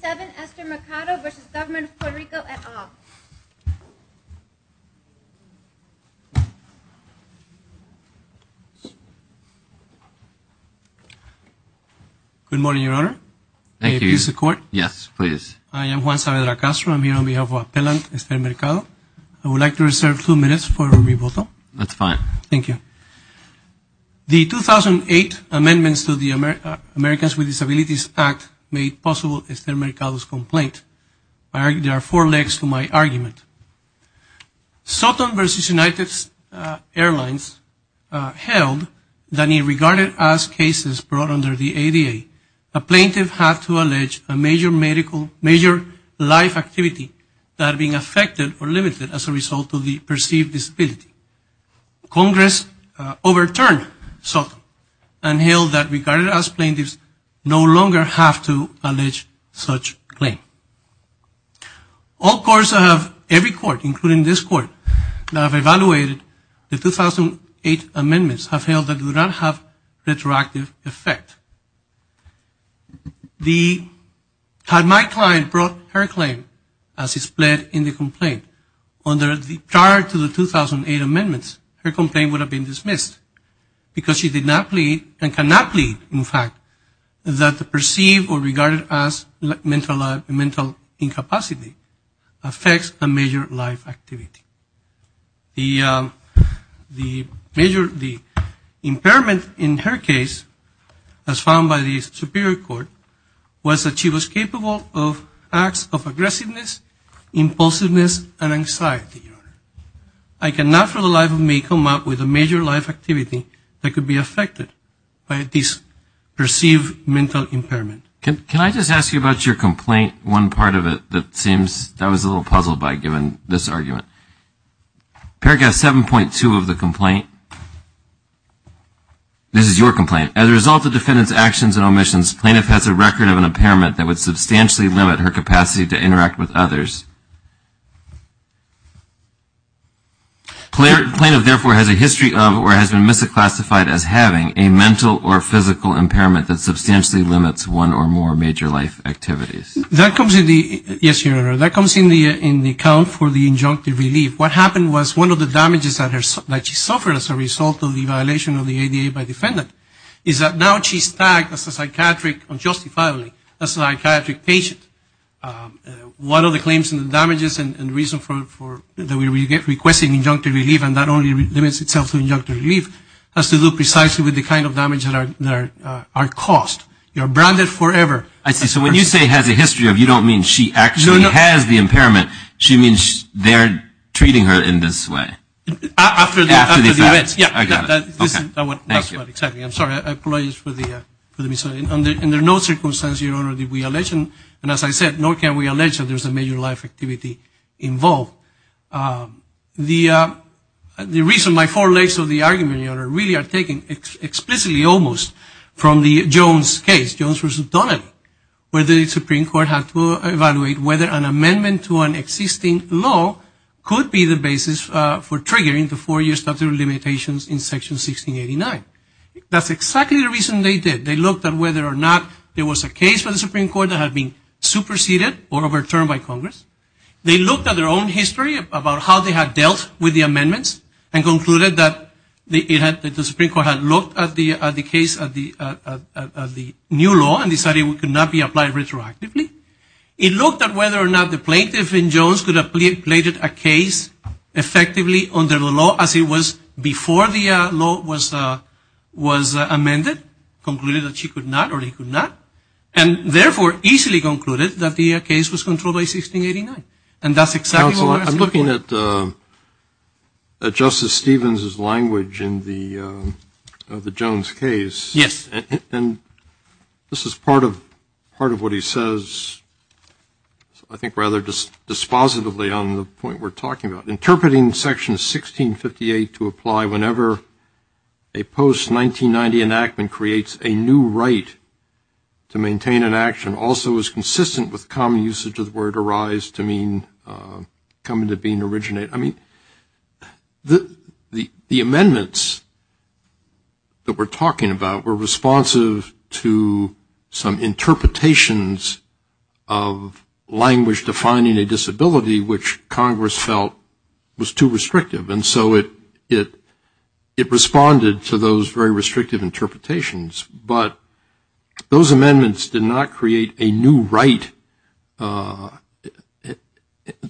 7, Ester Mercado v. Government of Puerto Rico, et al. Good morning, Your Honor. Thank you. May I have your support? Yes, please. I am Juan Saavedra Castro. I'm here on behalf of Appellant Ester Mercado. I would like to reserve two minutes for rebuttal. That's fine. Thank you. The 2008 amendments to the Americans with Disabilities Act made possible Ester Mercado's complaint. There are four legs to my argument. Soton v. United Airlines held that it regarded as cases brought under the ADA a plaintiff had to allege a major medical, major life activity that had been affected or limited as a result of the perceived disability. Congress overturned Soton and held that regarded as plaintiffs no longer have to allege such claim. All courts of every court, including this court, that have evaluated the 2008 amendments have held that it would not have retroactive effect. Had my client brought her claim as displayed in the complaint prior to the 2008 amendments, her complaint would have been dismissed because she did not plead and cannot plead, in fact, that the perceived or regarded as mental incapacity affects a major life activity. The impairment in her case, as found by the Superior Court, was that she was capable of acts of aggressiveness, impulsiveness, and anxiety. I cannot for the life of me come up with a major life activity that could be affected by this perceived mental impairment. Can I just ask you about your complaint, one part of it that seems, that was a little puzzled by giving this argument. Paragraph 7.2 of the complaint, this is your complaint. As a result of defendant's actions and omissions, plaintiff has a record of an impairment that would substantially limit her capacity to interact with others. Plaintiff, therefore, has a history of or has been misclassified as having a mental or physical impairment that substantially limits one or more major life activities. Yes, Your Honor, that comes in the account for the injunctive relief. What happened was one of the damages that she suffered as a result of the violation of the ADA by defendant is that now she's tagged as a psychiatric, unjustifiably, as a psychiatric patient. One of the claims in the damages and reason for the way we get requesting injunctive relief, and that only limits itself to injunctive relief, has to do precisely with the kind of damage that are caused. You're branded forever. I see. So when you say has a history of, you don't mean she actually has the impairment. She means they're treating her in this way. After the events. I got it. That's what exactly. I'm sorry. I apologize for the misunderstanding. Under no circumstances, Your Honor, did we allege, and as I said, nor can we allege that there's a major life activity involved. The reason my four legs of the argument, Your Honor, really are taken explicitly almost from the Jones case, Jones v. Donnelly, where the Supreme Court had to evaluate whether an amendment to an existing law could be the basis for triggering the four-year statute of limitations in Section 1689. That's exactly the reason they did. They looked at whether or not there was a case for the Supreme Court that had been superseded or overturned by Congress. They looked at their own history about how they had dealt with the amendments and concluded that the Supreme Court had looked at the case of the new law and decided it could not be applied retroactively. It looked at whether or not the plaintiff in Jones could have plated a case effectively under the law as it was before the law was amended, concluded that she could not or he could not, and therefore easily concluded that the case was controlled by 1689. And that's exactly what we're asking. Counsel, I'm looking at Justice Stevens's language in the Jones case. Yes. And this is part of what he says, I think, rather dispositively on the point we're talking about. Interpreting Section 1658 to apply whenever a post-1990 enactment creates a new right to maintain an action also is consistent with common usage of the word arise to mean come into being, originate. I mean, the amendments that we're talking about were responsive to some interpretations of language defining a disability, which Congress felt was too restrictive. And so it responded to those very restrictive interpretations. But those amendments did not create a new right. I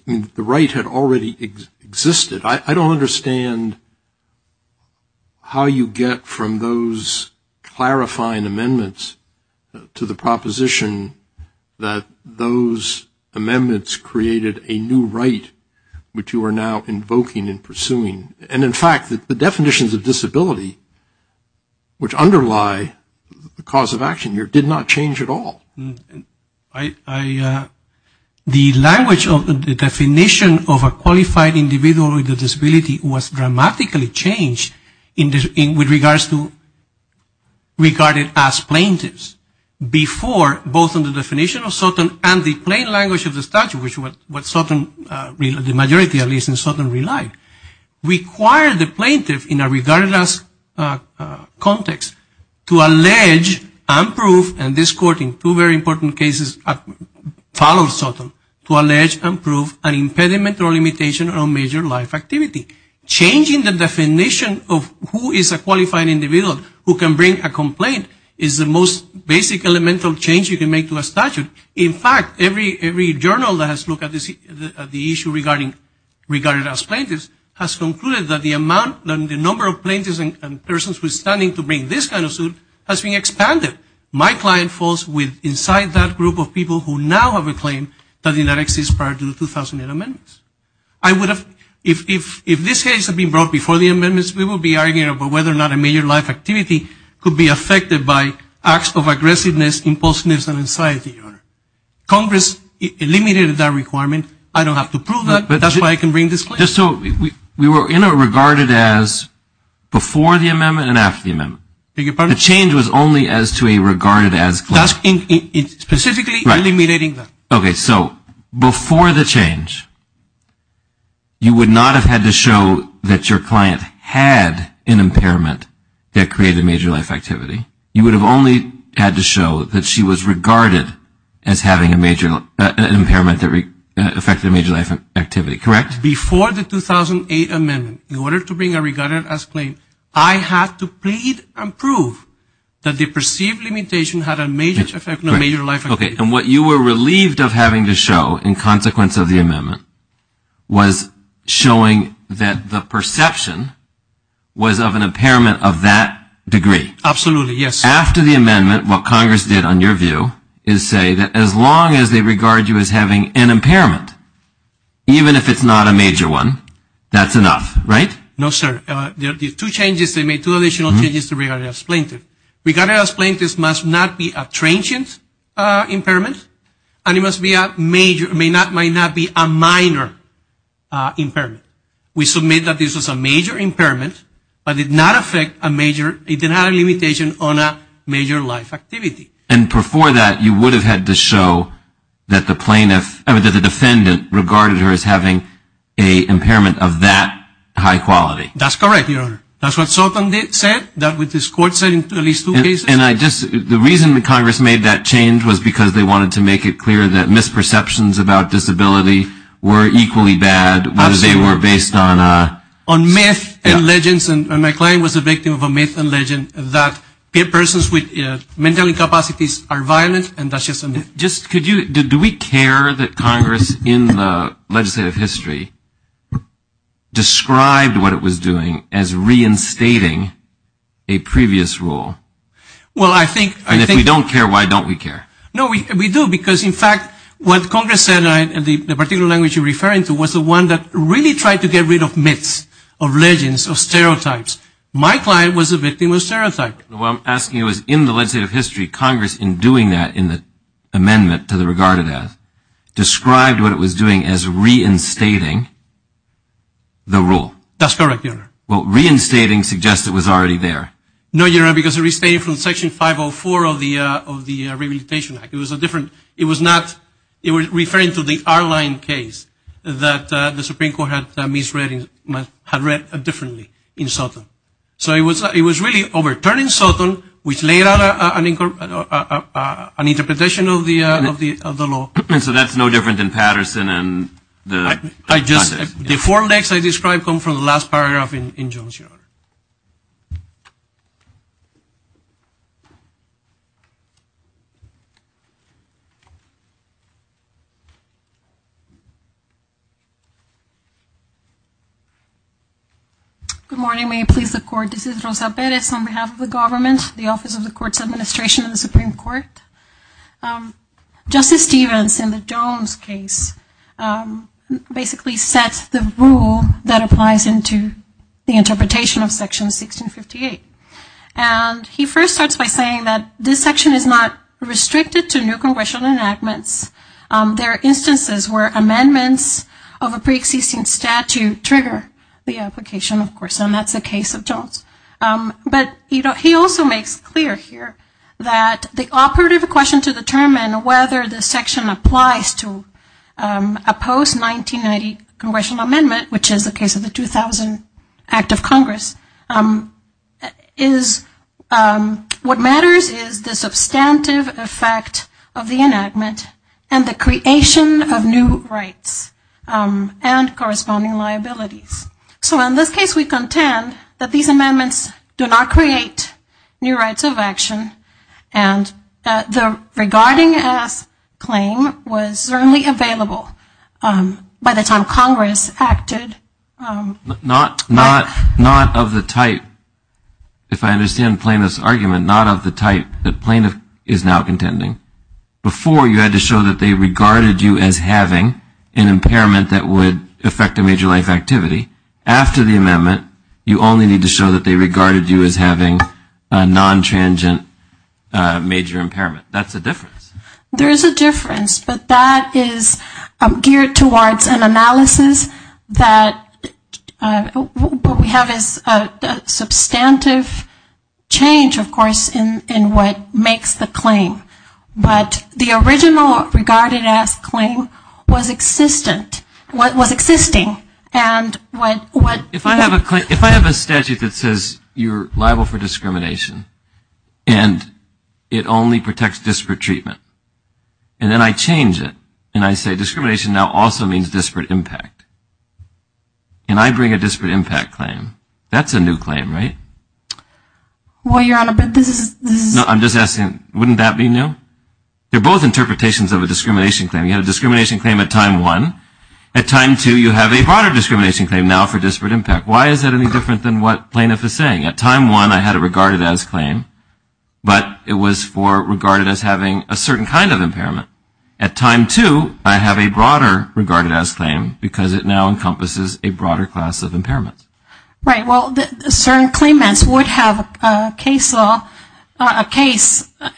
mean, the right had already existed. I don't understand how you get from those clarifying amendments to the proposition that those amendments created a new right, which you are now invoking and pursuing. And, in fact, the definitions of disability, which underlie the cause of action here, did not change at all. The language of the definition of a qualified individual with a disability was dramatically changed with regards to regarded as plaintiffs. Before, both in the definition of certain and the plain language of the statute, which the majority at least in Sutton relied, required the plaintiff in a regarded as context to allege and prove, and this court in two very important cases followed Sutton, to allege and prove an impediment or limitation on major life activity. Changing the definition of who is a qualified individual who can bring a complaint is the most basic elemental change you can make to a statute. In fact, every journal that has looked at the issue regarded as plaintiffs has concluded that the number of plaintiffs and persons withstanding to bring this kind of suit has been expanded. My client falls with inside that group of people who now have a claim that did not exist prior to the 2008 amendments. I would have, if this case had been brought before the amendments, we would be arguing about whether or not a major life activity could be affected by acts of aggressiveness, impulsiveness, and anxiety, Your Honor. Congress eliminated that requirement. I don't have to prove that. That's why I can bring this claim. So we were in a regarded as before the amendment and after the amendment. The change was only as to a regarded as claim. Specifically eliminating that. Okay. So before the change, you would not have had to show that your client had an impairment that created a major life activity. You would have only had to show that she was regarded as having an impairment that affected a major life activity, correct? Before the 2008 amendment, in order to bring a regarded as claim, I had to plead and prove that the perceived limitation had a major life activity. Okay. And what you were relieved of having to show in consequence of the amendment was showing that the perception was of an impairment of that degree. Absolutely, yes. After the amendment, what Congress did on your view is say that as long as they regard you as having an impairment, even if it's not a major one, that's enough, right? No, sir. There are two changes, two additional changes to regarded as plaintiff. Regarded as plaintiff must not be a transient impairment, and it may not be a minor impairment. We submit that this is a major impairment, but it did not affect a major, it did not have a limitation on a major life activity. And before that, you would have had to show that the defendant regarded her as having an impairment of that high quality. That's correct, Your Honor. That's what Sultan said, that what this court said in at least two cases. And I just, the reason that Congress made that change was because they wanted to make it clear that misperceptions about disability were equally bad, whether they were based on a. On myth and legends, and my client was a victim of a myth and legend that persons with mental incapacities are violent, and that's just a myth. Do we care that Congress in the legislative history described what it was doing as reinstating a previous rule? Well, I think. And if we don't care, why don't we care? No, we do, because in fact, what Congress said, and the particular language you're referring to was the one that really tried to get rid of myths, of legends, of stereotypes. My client was a victim of stereotypes. What I'm asking you is in the legislative history, Congress in doing that in the amendment to the regarded as, described what it was doing as reinstating the rule. That's correct, Your Honor. Well, reinstating suggests it was already there. No, Your Honor, because it restated from Section 504 of the Rehabilitation Act. It was a different, it was not, it was referring to the R-line case that the Supreme Court had misread, had read differently in Sultan. So it was really overturning Sultan, which laid out an interpretation of the law. So that's no different than Patterson and the context. The four legs I described come from the last paragraph in Jones, Your Honor. Good morning, may it please the Court. This is Rosa Perez on behalf of the government, the Office of the Court's Administration and the Supreme Court. Justice Stevens in the Jones case basically sets the rule that applies into the And he first starts by saying that this section is not restricted to new congressional enactments. There are instances where amendments of a pre-existing statute trigger the application, of course, and that's the case of Jones. But he also makes clear here that the operative question to determine whether the section applies to a post-1990 congressional amendment, which is the case of the 2000 Act of Congress, is what matters is the substantive effect of the enactment and the creation of new rights and corresponding liabilities. So in this case we contend that these amendments do not create new rights of action And the regarding us claim was certainly available by the time Congress acted. Not of the type, if I understand plaintiff's argument, not of the type that plaintiff is now contending. Before you had to show that they regarded you as having an impairment that would affect a major life activity. After the amendment, you only need to show that they regarded you as having a non-transient major impairment. That's a difference. There is a difference, but that is geared towards an analysis that what we have is a substantive change, of course, in what makes the claim. But the original regarding us claim was existing. If I have a statute that says you're liable for discrimination and it only protects disparate treatment, and then I change it and I say discrimination now also means disparate impact, and I bring a disparate impact claim, that's a new claim, right? Well, Your Honor, but this is... No, I'm just asking, wouldn't that be new? They're both interpretations of a discrimination claim. You had a discrimination claim at time one. At time two, you have a broader discrimination claim now for disparate impact. Why is that any different than what plaintiff is saying? At time one, I had a regarded as claim, but it was for regarded as having a certain kind of impairment. At time two, I have a broader regarded as claim because it now encompasses a broader class of impairment. Right. Well, certain claimants would have a case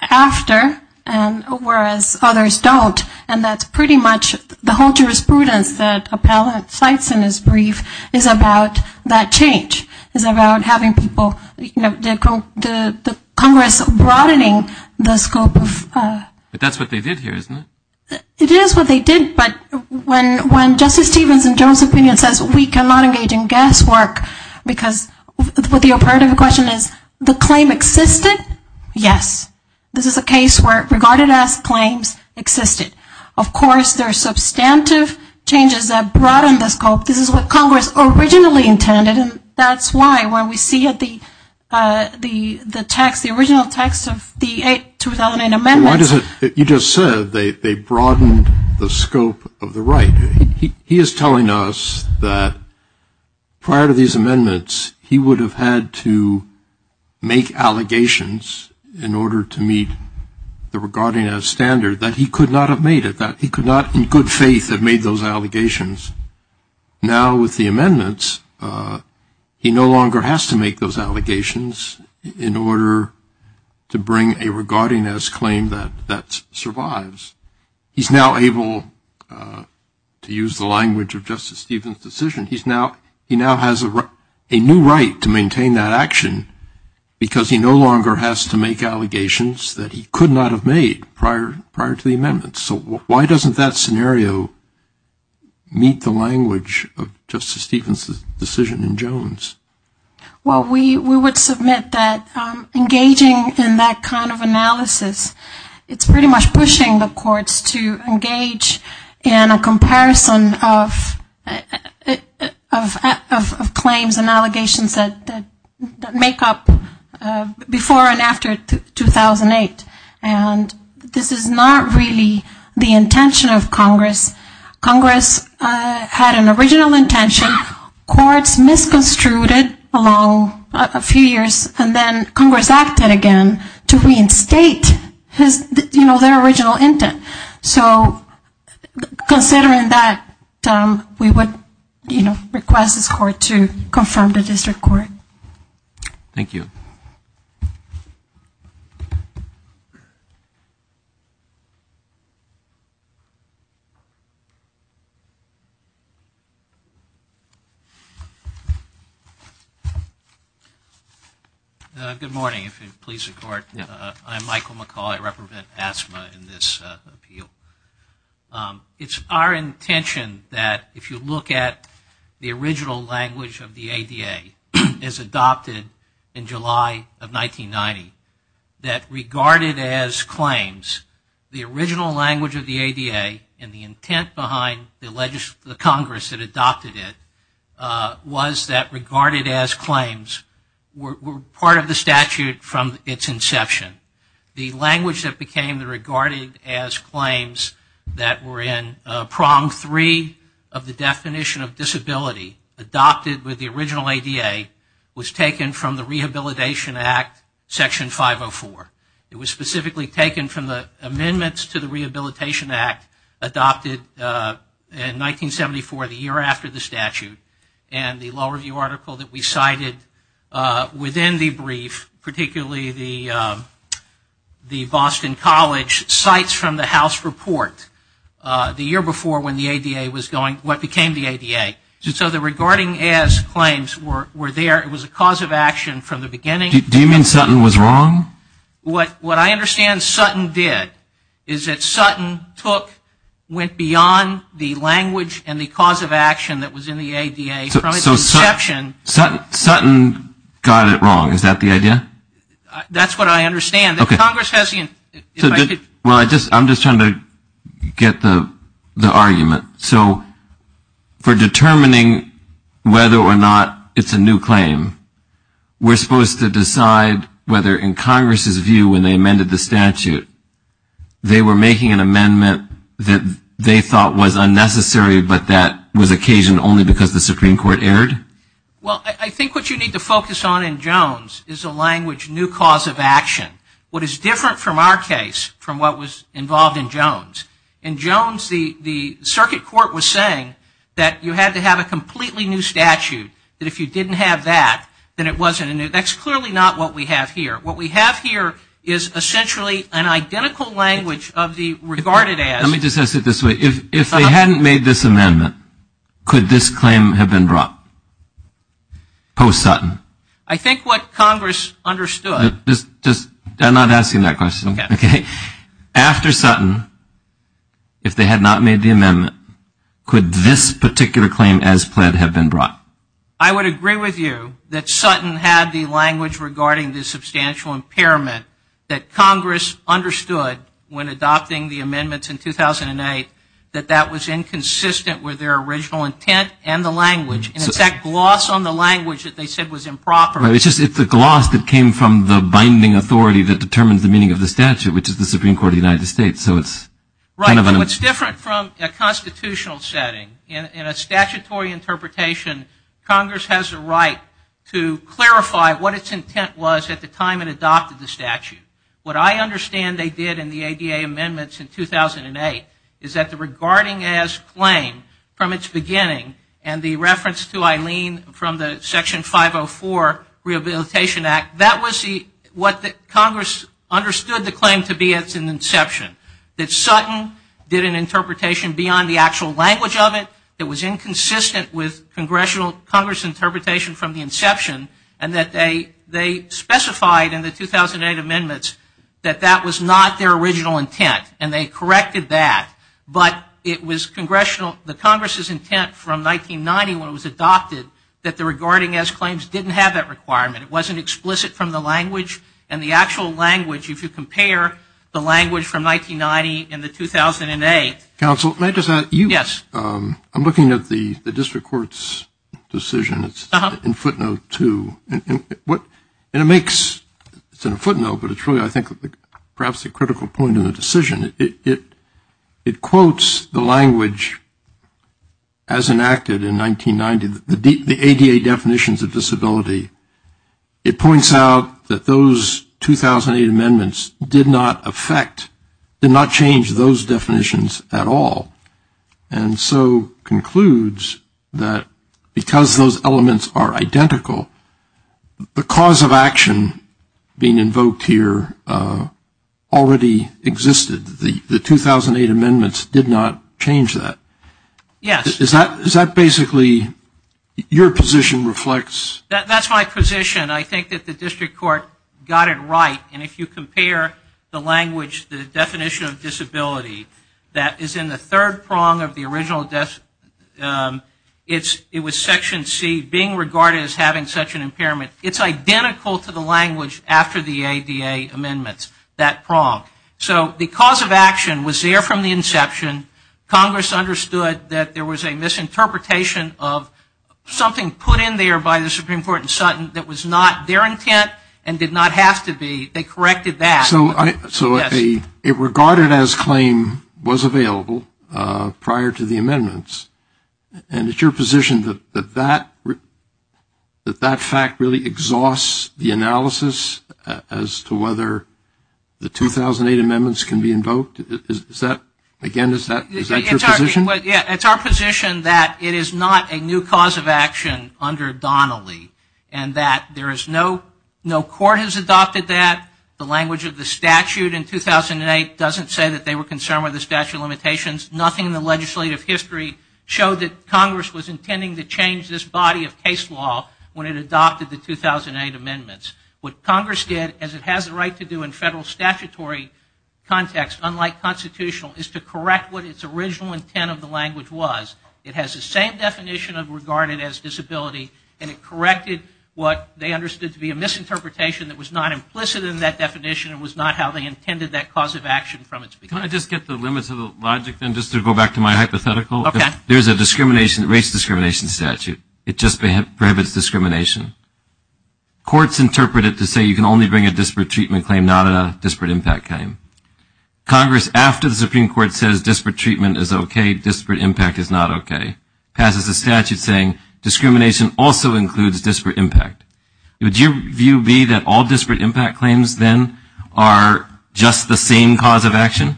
after, whereas others don't, and that's pretty much the whole jurisprudence that Appellate cites in his brief is about that change, is about having people, you know, the Congress broadening the scope of... But that's what they did here, isn't it? It is what they did. But when Justice Stevens in Jones' opinion says we cannot engage in guesswork because what the imperative question is, the claim existed, yes. This is a case where regarded as claims existed. Of course, there are substantive changes that broaden the scope. This is what Congress originally intended, and that's why when we see the text, the original text of the 2008 amendments... He is telling us that prior to these amendments, he would have had to make allegations in order to meet the regarded as standard, that he could not have made it, that he could not in good faith have made those allegations. Now with the amendments, he no longer has to make those allegations in order to bring a regarded as claim that survives. He's now able to use the language of Justice Stevens' decision. He now has a new right to maintain that action because he no longer has to make allegations that he could not have made prior to the amendments. So why doesn't that scenario meet the language of Justice Stevens' decision in Jones? Well, we would submit that engaging in that kind of analysis, it's pretty much pushing the courts to engage in a comparison of claims and allegations that make up before and after 2008, and this is not really the intention of Congress. Congress had an original intention. Courts misconstrued it along a few years and then Congress acted again to reinstate their original intent. So considering that, we would request this court to confirm the district court. Thank you. Good morning, if you would please support. I'm Michael McCaul. I represent ASMA in this appeal. It's our intention that if you look at the original language of the ADA as adopted in July of 1990, that regarded as claims, the original language of the ADA and the intent behind the Congress that adopted it was that regarded as claims were part of the statute from its inception. The language that became the regarded as claims that were in prong three of the definition of disability adopted with the original ADA was taken from the Rehabilitation Act Section 504. It was specifically taken from the amendments to the Rehabilitation Act adopted in 1974, the year after the statute, and the law review article that we cited within the brief, particularly the Boston College Cites from the House Report the year before when the ADA was going, what became the ADA. So the regarding as claims were there. It was a cause of action from the beginning. Do you mean Sutton was wrong? What I understand Sutton did is that Sutton took, went beyond the language and the cause of action that was in the ADA from its inception. Sutton got it wrong. Is that the idea? That's what I understand. If Congress has the, if I could. Well, I'm just trying to get the argument. So for determining whether or not it's a new claim, we're supposed to decide whether in Congress's view when they amended the statute, they were making an amendment that they thought was unnecessary, but that was occasioned only because the Supreme Court erred? Well, I think what you need to focus on in Jones is a language, new cause of action. What is different from our case, from what was involved in Jones, in Jones the circuit court was saying that you had to have a completely new statute, that if you didn't have that, then it wasn't a new, that's clearly not what we have here. What we have here is essentially an identical language of the regarded as. Let me just ask it this way. If they hadn't made this amendment, could this claim have been brought post-Sutton? I think what Congress understood. Just, I'm not asking that question. Okay. After Sutton, if they had not made the amendment, could this particular claim as pled have been brought? I would agree with you that Sutton had the language regarding the substantial impairment that Congress understood when adopting the amendments in 2008, that that was inconsistent with their original intent and the language. And it's that gloss on the language that they said was improper. It's the gloss that came from the binding authority that determines the meaning of the statute, which is the Supreme Court of the United States. So it's kind of an. Right. What's different from a constitutional setting, in a statutory interpretation, Congress has a right to clarify what its intent was at the time it adopted the statute. What I understand they did in the ADA amendments in 2008 is that the regarding as claim, from its beginning, and the reference to Eileen from the Section 504 Rehabilitation Act, that was what Congress understood the claim to be at its inception. That Sutton did an interpretation beyond the actual language of it, that was inconsistent with Congress' interpretation from the inception, and that they specified in the 2008 amendments that that was not their original intent. And they corrected that. But it was Congressional, the Congress' intent from 1990 when it was adopted, that the regarding as claims didn't have that requirement. It wasn't explicit from the language, and the actual language, if you compare the language from 1990 and the 2008. Counsel, may I just add. Yes. I'm looking at the district court's decision in footnote two. And it makes, it's in a footnote, but it's really, I think, perhaps a critical point in the decision. It quotes the language as enacted in 1990, the ADA definitions of disability. It points out that those 2008 amendments did not affect, did not change those definitions at all. And so concludes that because those elements are identical, the cause of action being invoked here already existed. The 2008 amendments did not change that. Yes. Is that basically, your position reflects. That's my position. I think that the district court got it right. And if you compare the language, the definition of disability, that is in the third prong of the original, it was section C, being regarded as having such an impairment. It's identical to the language after the ADA amendments, that prong. So the cause of action was there from the inception. Congress understood that there was a misinterpretation of something put in there by the Supreme Court in Sutton that was not their intent and did not have to be. They corrected that. So it regarded as claim was available prior to the amendments. And it's your position that that fact really exhausts the analysis as to whether the 2008 amendments can be invoked? Is that, again, is that your position? It's our position that it is not a new cause of action under Donnelly and that there is no court has adopted that. The language of the statute in 2008 doesn't say that they were concerned with the statute of limitations. Nothing in the legislative history showed that Congress was intending to change this body of case law when it adopted the 2008 amendments. What Congress did, as it has the right to do in federal statutory context, unlike constitutional, is to correct what its original intent of the language was. It has the same definition of regarded as disability, and it corrected what they understood to be a misinterpretation that was not implicit in that definition and was not how they intended that cause of action from its beginning. Can I just get the limits of the logic, then, just to go back to my hypothetical? Okay. There's a discrimination, race discrimination statute. It just prohibits discrimination. Courts interpret it to say you can only bring a disparate treatment claim, not a disparate impact claim. Congress, after the Supreme Court says disparate treatment is okay, disparate impact is not okay, passes a statute saying discrimination also includes disparate impact. Would your view be that all disparate impact claims, then, are just the same cause of action?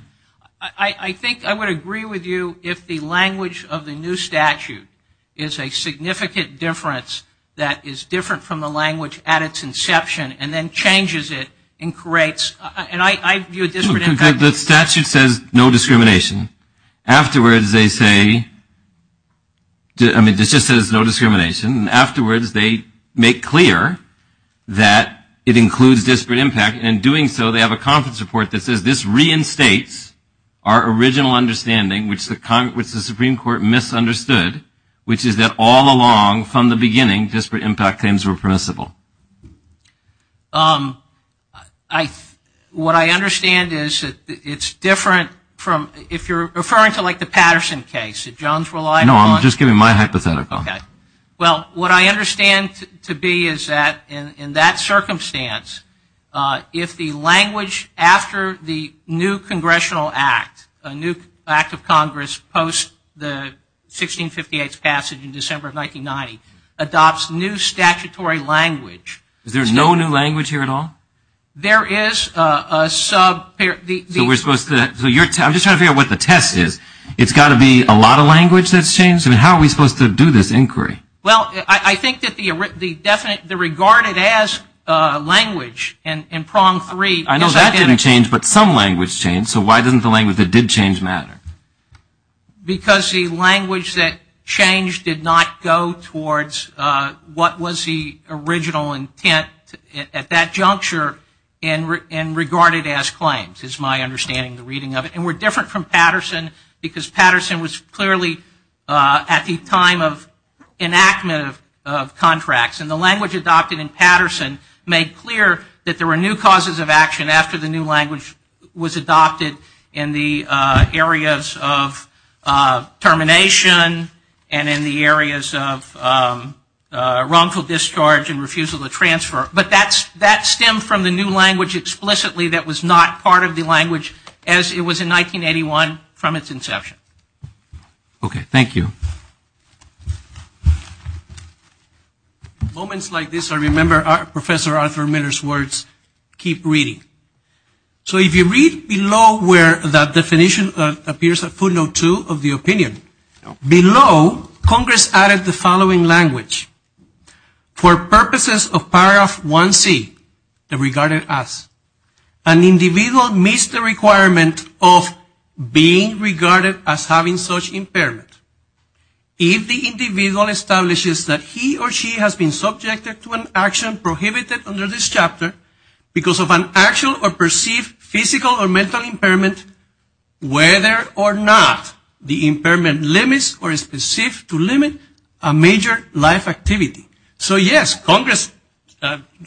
I think I would agree with you if the language of the new statute is a significant difference that is different from the language at its inception and then changes it and creates, and I view a disparate impact. The statute says no discrimination. Afterwards, they say, I mean, it just says no discrimination, and afterwards they make clear that it includes disparate impact, and in doing so they have a conference report that says this reinstates our original understanding, which the Supreme Court misunderstood, which is that all along from the beginning disparate impact claims were permissible. What I understand is that it's different from, if you're referring to like the Patterson case, that Jones relied upon. No, I'm just giving my hypothetical. Okay. Well, what I understand to be is that in that circumstance, if the language after the new congressional act, a new act of Congress post the 1658 passage in December of 1990, adopts new statutory language. Is there no new language here at all? There is a sub- So we're supposed to, I'm just trying to figure out what the test is. It's got to be a lot of language that's changed? How are we supposed to do this inquiry? Well, I think that the regarded as language in prong three- I know that didn't change, but some language changed, so why doesn't the language that did change matter? Because the language that changed did not go towards what was the original intent at that juncture in regarded as claims is my understanding, the reading of it. And we're different from Patterson because Patterson was clearly at the time of enactment of contracts. And the language adopted in Patterson made clear that there were new causes of action after the new language was adopted in the areas of termination and in the areas of wrongful discharge and refusal to transfer. But that stemmed from the new language explicitly that was not part of the from its inception. Okay, thank you. Moments like this I remember Professor Arthur Miller's words, keep reading. So if you read below where that definition appears at footnote two of the opinion, below Congress added the following language. For purposes of paragraph 1C, the regarded as, an individual meets the requirement of being regarded as having such impairment. If the individual establishes that he or she has been subjected to an action prohibited under this chapter because of an actual or perceived physical or mental impairment, whether or not the impairment limits or is perceived to limit a major life activity. So yes, Congress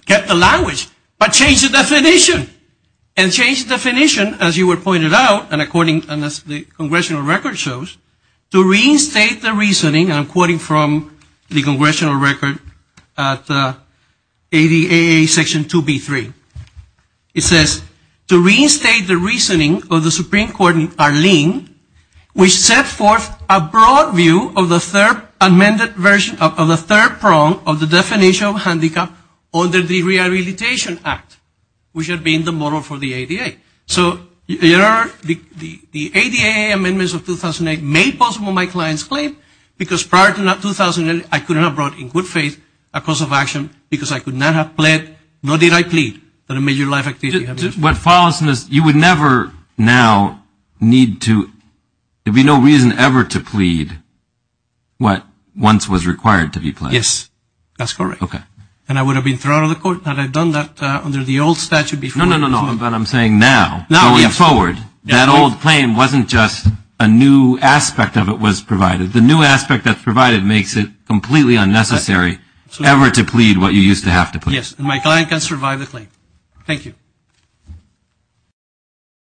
kept the language but changed the definition. And changed the definition, as you pointed out, and according to the Congressional record shows, to reinstate the reasoning, and I'm quoting from the Congressional record, ADA section 2B3. It says, to reinstate the reasoning of the Supreme Court in Arlene, which set forth a broad view of the third amended version of the third prong of the definition of handicap under the Rehabilitation Act, which had been the model for the ADA. So the ADA amendments of 2008 made possible my client's claim because prior to 2008, I could not have brought in good faith a cause of action because I could not have pled, nor did I plead, for a major life activity. You would never now need to, there would be no reason ever to plead what once was required to be pled. Yes, that's correct. Okay. And I would have been thrown out of the court had I done that under the old statute before. No, no, no, no, but I'm saying now, going forward, that old claim wasn't just a new aspect of it was provided. The new aspect that's provided makes it completely unnecessary ever to plead what you used to have to plead. Yes, and my client can survive the claim. Thank you.